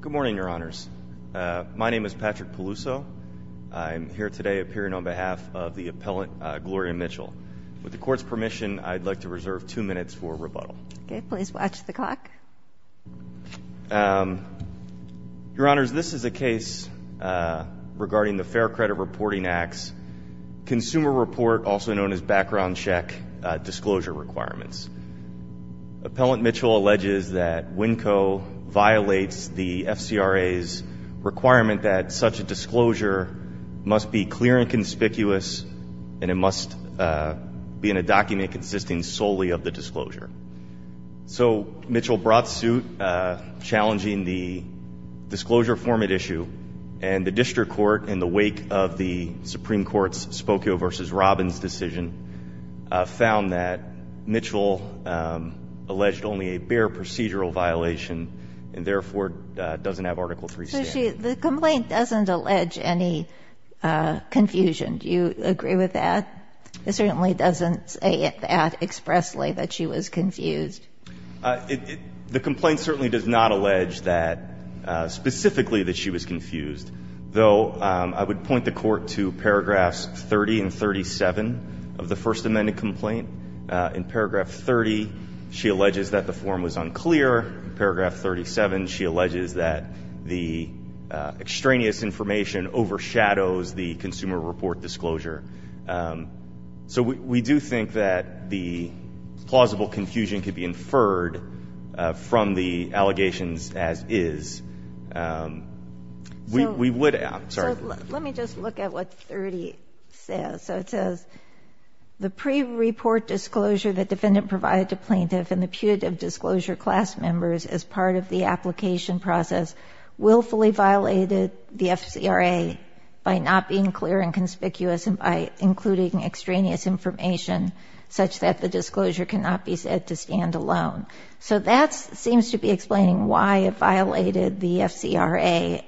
Good morning, Your Honors. My name is Patrick Peluso. I'm here today appearing on behalf of the appellant, Gloria Mitchell. With the Court's permission, I'd like to reserve two minutes for rebuttal. Okay, please watch the clock. Your Honors, this is a case regarding the Fair Credit Reporting Act's Consumer Report, also known as Background Check Disclosure Requirements. Appellant Mitchell alleges that Winco violates the FCRA's requirement that such a disclosure must be clear and conspicuous and it must be in a document consisting solely of the disclosure. So, Mitchell brought suit challenging the disclosure format issue, and the District Court, in the wake of the Supreme Court's decision, found that Mitchell alleged only a bare procedural violation and, therefore, doesn't have Article III standing. So, the complaint doesn't allege any confusion. Do you agree with that? It certainly doesn't say that expressly, that she was confused. The complaint certainly does not allege that, specifically, that she was confused, though I would point the Court to paragraphs 30 and 37 of the First Amendment complaint. In paragraph 30, she alleges that the form was unclear. In paragraph 37, she alleges that the extraneous information overshadows the Consumer Report disclosure. So, we do think that the plausible confusion could be inferred from the allegations as is. So, let me just look at what 30 says. So, it says, the pre-report disclosure that defendant provided to plaintiff and the putative disclosure class members as part of the application process willfully violated the FCRA by not being clear and conspicuous and by including extraneous information such that the disclosure cannot be said to stand alone. So, that seems to be explaining why it violated the FCRA,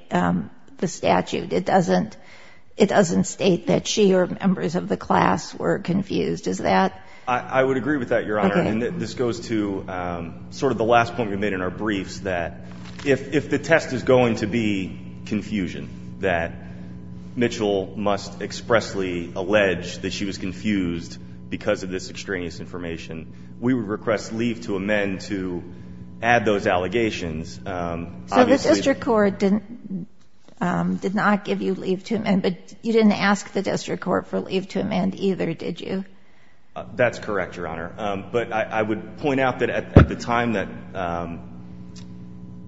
the statute. It doesn't state that she or members of the class were confused. Is that? I would agree with that, Your Honor. And this goes to sort of the last point we made in our briefs, that if the test is going to be confusion, that Mitchell must expressly allege that she was confused because of this extraneous information, we would request leave to amend to add those allegations. So, the district court did not give you leave to amend, but you didn't ask the district court for leave to amend either, did you? That's correct, Your Honor. But I would point out that at the time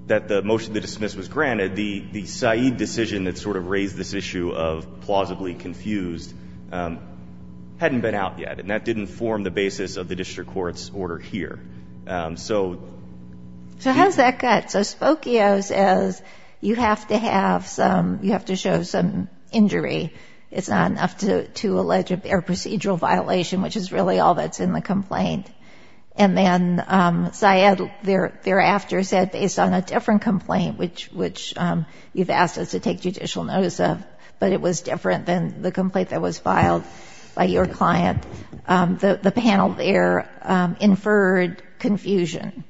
that the motion to dismiss was granted, the Said decision that sort of raised this issue of plausibly confused hadn't been out yet, and that didn't form the basis of the district court's order here. So, how does that cut? So, Spokio says you have to have some, you have to show some injury. It's not enough to allege a procedural violation, which is really all that's in the complaint. And then Said thereafter said, based on a different complaint, which you've asked us to take judicial notice of, but it was different than the complaint that was filed by your client, the panel there inferred confusion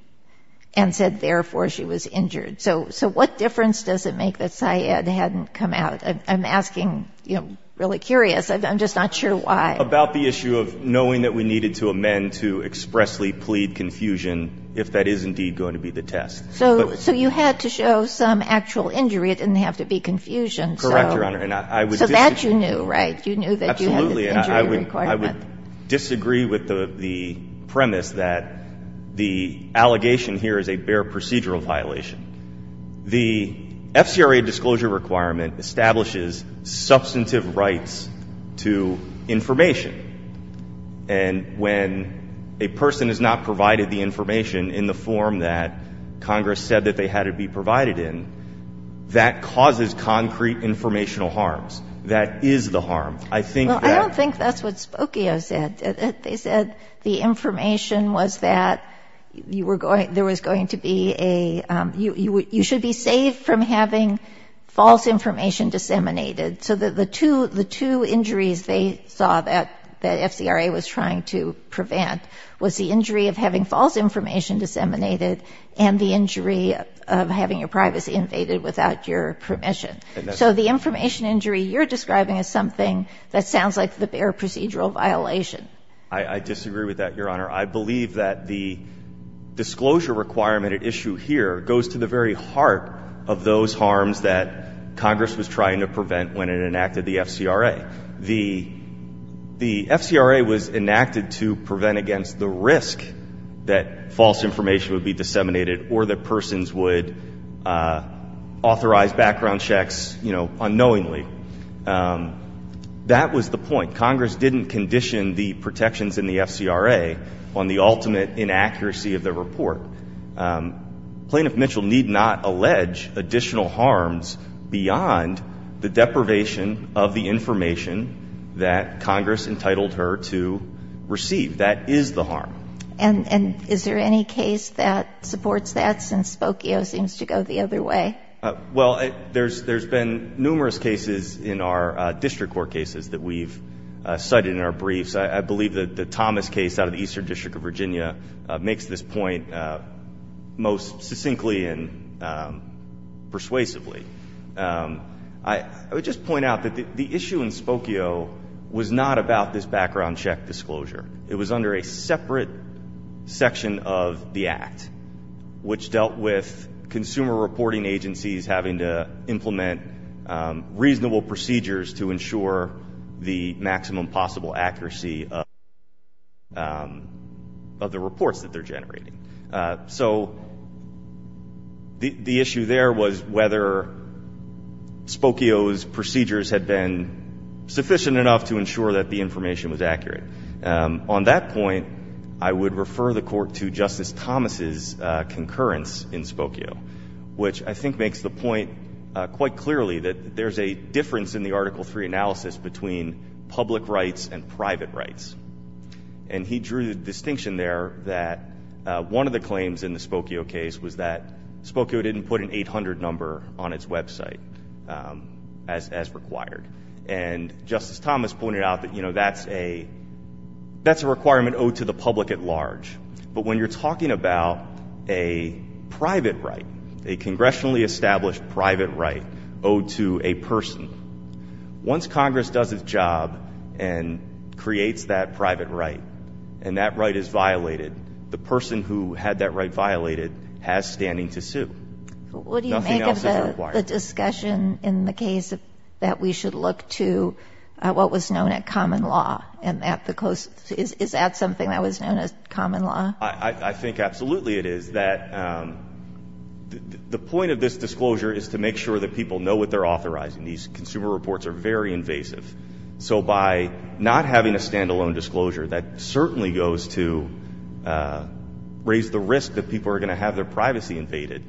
and said, therefore, she was injured. So, what difference does it make that Said hadn't come out? I'm asking, you know, really curious. I'm just not sure why. About the issue of knowing that we needed to amend to expressly plead confusion if that is indeed going to be the test. So, you had to show some actual injury. It didn't have to be confusion. You're right. You knew that you had an injury requirement. Absolutely. I would disagree with the premise that the allegation here is a bare procedural violation. The FCRA disclosure requirement establishes substantive rights to information. And when a person has not provided the information in the form that Congress said that they had to be provided in, that causes concrete informational harms. That is the harm. I don't think that's what Spokio said. They said the information was that there was going to be a, you should be saved from having false information disseminated. So, the two injuries they saw that FCRA was trying to prevent was the injury of having false information disseminated and the injury of having your privacy invaded without your permission. So, the information injury you're describing is something that sounds like the bare procedural violation. I disagree with that, Your Honor. I believe that the disclosure requirement at issue here goes to the very heart of those harms that Congress was trying to prevent when it was enacted to prevent against the risk that false information would be disseminated or that persons would authorize background checks, you know, unknowingly. That was the point. Congress didn't condition the protections in the FCRA on the ultimate inaccuracy of the report. Plaintiff Mitchell need not allege additional harms beyond the deprivation of the information that Congress entitled her to receive. That is the harm. And is there any case that supports that since Spokio seems to go the other way? Well, there's been numerous cases in our district court cases that we've cited in our briefs. I believe that the Thomas case out of the Eastern District of Virginia makes this point most succinctly and persuasively. I would just point out that the issue in Spokio was not about this background check disclosure. It was under a separate section of the Act which dealt with consumer reporting agencies having to implement reasonable procedures to ensure the maximum possible accuracy of the reports that they're generating. So the issue there was whether Spokio's procedures had been sufficient enough to ensure that the information was accurate. On that point, I would refer the Court to Justice Thomas's concurrence in Spokio, which I think makes the point quite clearly that there's a difference in the Article 3 analysis between public rights and private rights. And he drew the distinction there that one of the claims in the Spokio case was that Spokio didn't put an 800 number on its website as required. And Justice Thomas pointed out that, you know, that's a requirement owed to the public at large. But when you're talking about a private right, a congressionally established private right owed to a person, once Congress does its job and creates that private right and that right is violated, the person who had that right violated has standing to sue. Nothing else is required. What do you make of the discussion in the case that we should look to what was known at common law and at the close? Is that something that was known as common law? I think absolutely it is. The point of this disclosure is to make sure that people know what they're authorizing. These consumer reports are very invasive. So by not having a standalone disclosure, that certainly goes to raise the risk that people are going to have their privacy invaded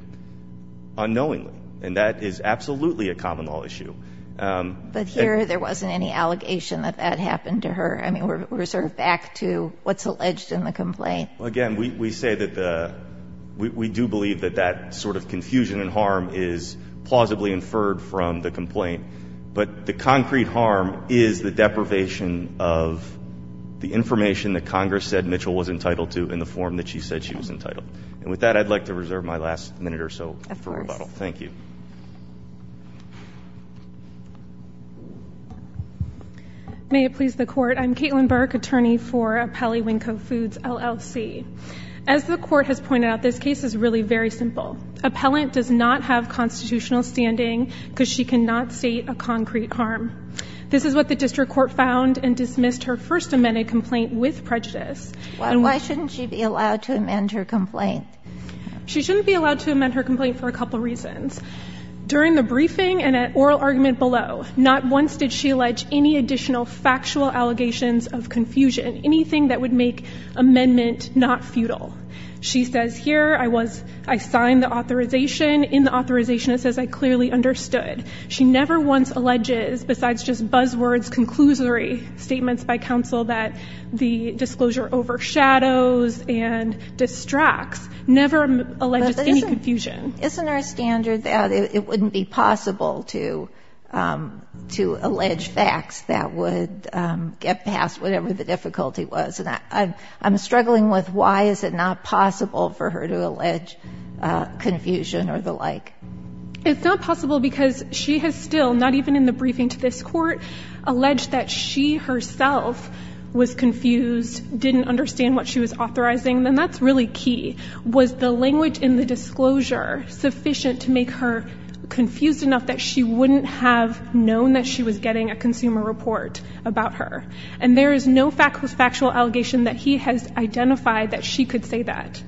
unknowingly. And that is absolutely a common law issue. But here there wasn't any allegation that that happened to her. I mean, we're sort of back to what's alleged in the complaint. Well, again, we say that the, we do believe that that sort of confusion and harm is plausibly inferred from the complaint. But the concrete harm is the deprivation of the information that Congress said Mitchell was entitled to in the form that she said she was entitled. And with that, I'd like to reserve my last minute or so for rebuttal. Thank you. May it please the court. I'm Caitlin Burke, attorney for Appellee Winko Foods, LLC. As the court has pointed out, this case is really very simple. Appellant does not have constitutional standing because she cannot state a concrete harm. This is what the district court found and dismissed her first amended complaint with prejudice. Why shouldn't she be allowed to amend her complaint? She shouldn't be allowed to amend her complaint for a couple of reasons. During the briefing and an oral argument below, not once did she allege any additional factual allegations of confusion, anything that would make amendment not futile. She says here, I was, I signed the authorization. In the authorization, it says I clearly understood. She never once alleges besides just buzzwords, conclusory statements by counsel that the disclosure overshadows and distracts, never alleges any confusion. Isn't our standard that it wouldn't be possible to, um, to allege facts that would, um, get past whatever the difficulty was? And I, I'm struggling with why is it not possible for her to allege, uh, confusion or the like? It's not possible because she has still, not even in the briefing to this court, alleged that she herself was confused, didn't understand what she was authorizing. And that's really key. Was the language in the disclosure sufficient to make her confused enough that she wouldn't have known that she was getting a consumer report about her? And there is no factual allegation that he has identified that she could say that.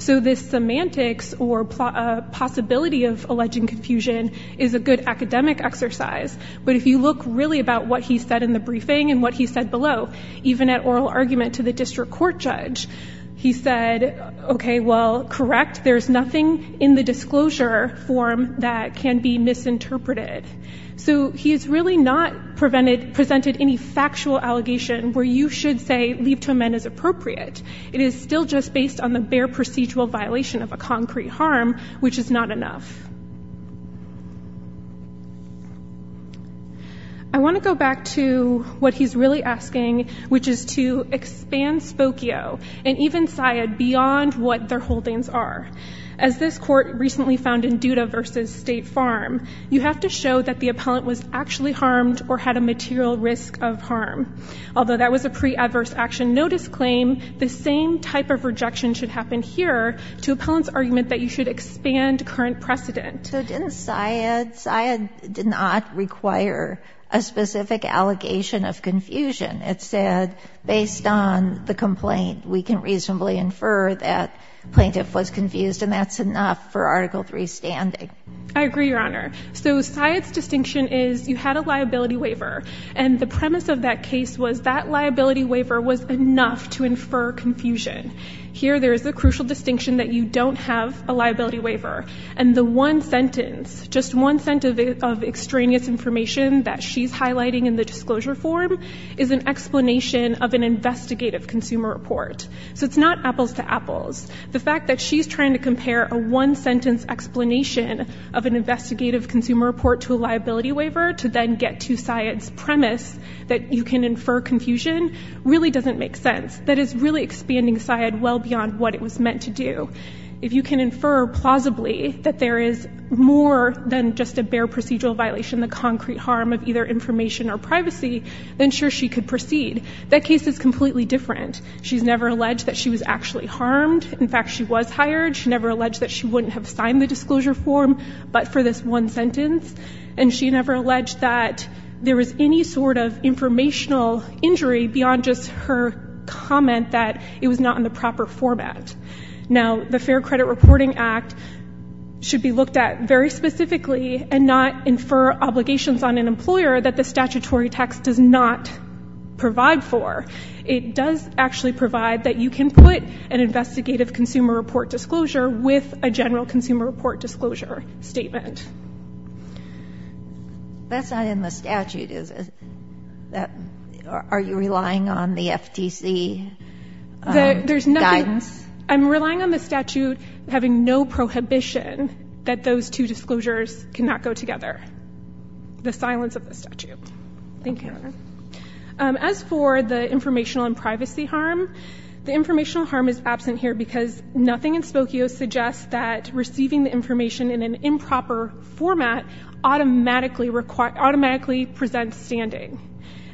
So this semantics or a possibility of alleging confusion is a good academic exercise. But if you look really about what he said in the briefing and what he said below, even at oral argument to the district court judge, he said, okay, well, correct. There's nothing in the disclosure form that can be misinterpreted. So he has really not prevented, presented any factual allegation where you should say leave to amend is appropriate. It is still just based on the bare procedural violation of a concrete harm, which is not enough. I want to go back to what he's really asking, which is to expand Spokio and even Syed beyond what their holdings are. As this court recently found in Duda v. State Farm, you have to show that the appellant was actually harmed or had a material risk of harm. Although that was a pre-adverse action notice claim, the same type of rejection should happen here to appellant's argument that you should expand current precedent. So didn't Syed, Syed did not require a specific allegation of confusion. It said based on the complaint, we can reasonably infer that plaintiff was confused and that's enough for Article III standing. I agree, Your Honor. So Syed's distinction is you had a liability waiver and the premise of that case was that liability waiver was enough to infer confusion. Here, there is a crucial distinction that you don't have a liability waiver and the one sentence, just one sentence of extraneous information that she's highlighting in the disclosure form is an explanation of an investigative consumer report. So it's not apples to apples. The fact that she's trying to compare a one-sentence explanation of an investigative consumer report to a liability waiver to then get to Syed's premise that you can infer confusion really doesn't make sense. That is really expanding Syed well beyond what it was meant to do. If you can infer plausibly that there is more than just a bare procedural violation, the concrete harm of either information or privacy, then sure, she could proceed. That case is completely different. She's never alleged that she was actually harmed. In fact, she was hired. She never alleged that she wouldn't have signed the disclosure form but for this one sentence and she never alleged that there was any sort of informational injury beyond just her comment that it was not in the proper format. Now, the Fair Credit Reporting Act should be looked at very specifically and not infer obligations on an employer that the statutory text does not provide for. It does actually provide that you can put an investigative consumer report disclosure with a general consumer report disclosure statement. That's not in the statute, is it? Are you relying on the FTC guidance? There's nothing. I'm relying on the statute having no prohibition that those two disclosures cannot go together. The silence of the statute. Thank you, Your Honor. As for the informational and privacy harm, the informational harm is absent here because nothing in Spokio suggests that receiving the information in an improper format automatically presents standing.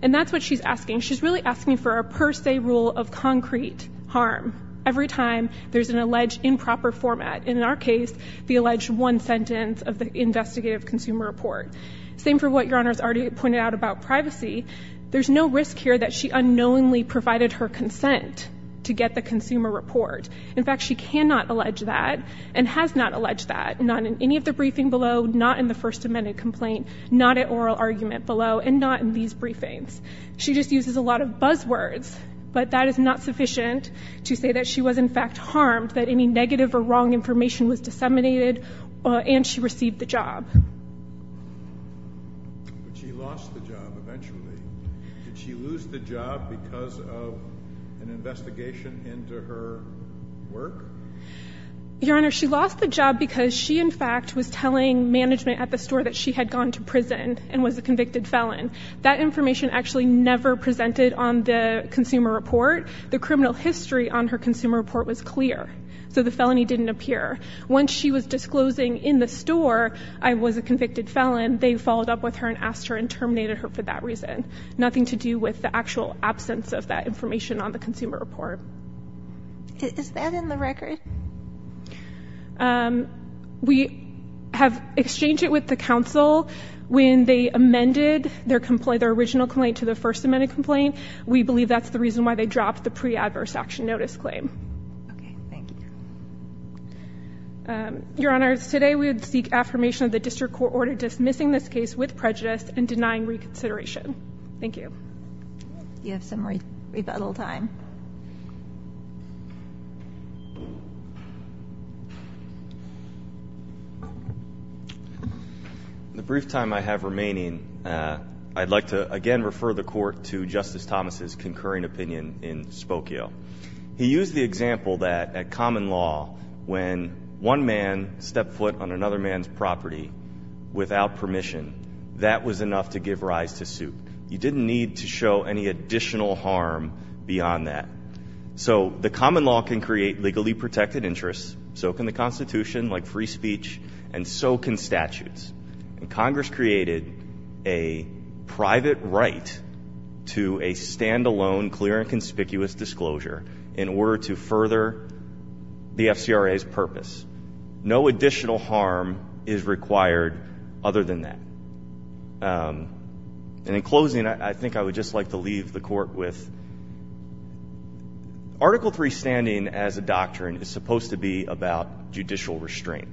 And that's what she's asking. She's really asking for a per se rule of concrete harm every time there's an alleged improper format. In our case, the alleged one sentence of the investigative consumer report. Same for what Your Honor has already pointed out about privacy. There's no risk here that she unknowingly provided her consent to get the consumer report. In fact, she cannot allege that and has not alleged that. Not in any of the briefing below, not in the First Amendment complaint, not at oral argument below, and not in these briefings. She just uses a lot of buzzwords, but that is not sufficient to say that she was in fact harmed, that any negative or wrong information was disseminated, and she received the job. But she lost the job eventually. Did she lose the job because of an investigation into her work? Your Honor, she lost the job because she in fact was telling management at the store that she had gone to prison and was a convicted felon. That information actually never presented on the consumer report. The criminal history on her consumer report was clear. So the felony didn't appear. Once she was disclosing in the store, I was a convicted felon, they followed up with her and asked her and terminated her for that reason. Nothing to do with the actual absence of that information on the consumer report. Is that in the record? We have exchanged it with the counsel. When they amended their original complaint to the First Amendment complaint, we believe that's the reason why they dropped the pre-adverse action notice claim. Your Honor, today we would seek affirmation of the district court order dismissing this case with prejudice and denying reconsideration. Thank you. You have some rebuttal time. In the brief time I have remaining, I'd like to again refer the court to Justice Thomas' concurring opinion in Spokio. He used the example that, at common law, when one man stepped foot on another man's property without permission, that was enough to give rise to suit. You didn't need to show any additional harm beyond that. So the common law can create legally protected interests, so can the Constitution, like free and conspicuous disclosure, in order to further the FCRA's purpose. No additional harm is required other than that. In closing, I think I would just like to leave the court with, Article III standing as a doctrine is supposed to be about judicial restraint.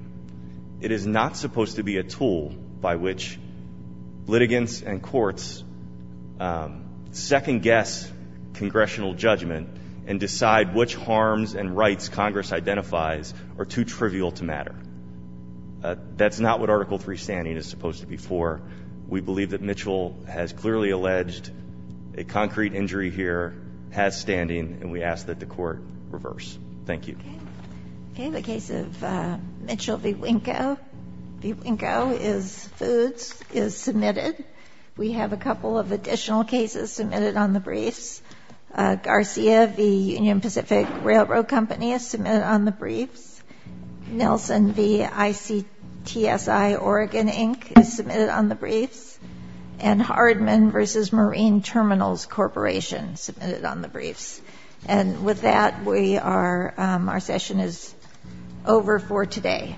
It is not supposed to be a tool by which litigants and courts second-guess congressional judgment and decide which harms and rights Congress identifies are too trivial to matter. That's not what Article III standing is supposed to be for. We believe that Mitchell has clearly alleged a concrete injury here, has standing, and we ask that the court reverse. Thank you. Okay, the case of Mitchell v. Winko is foods, is submitted. We have a couple of additional cases submitted on the briefs. Garcia v. Union Pacific Railroad Company is submitted on the briefs. Nelson v. ICTSI Oregon Inc. is submitted on the briefs. And Hardman v. Marine Terminals Corporation is submitted on the briefs. And with that, our session is over for today.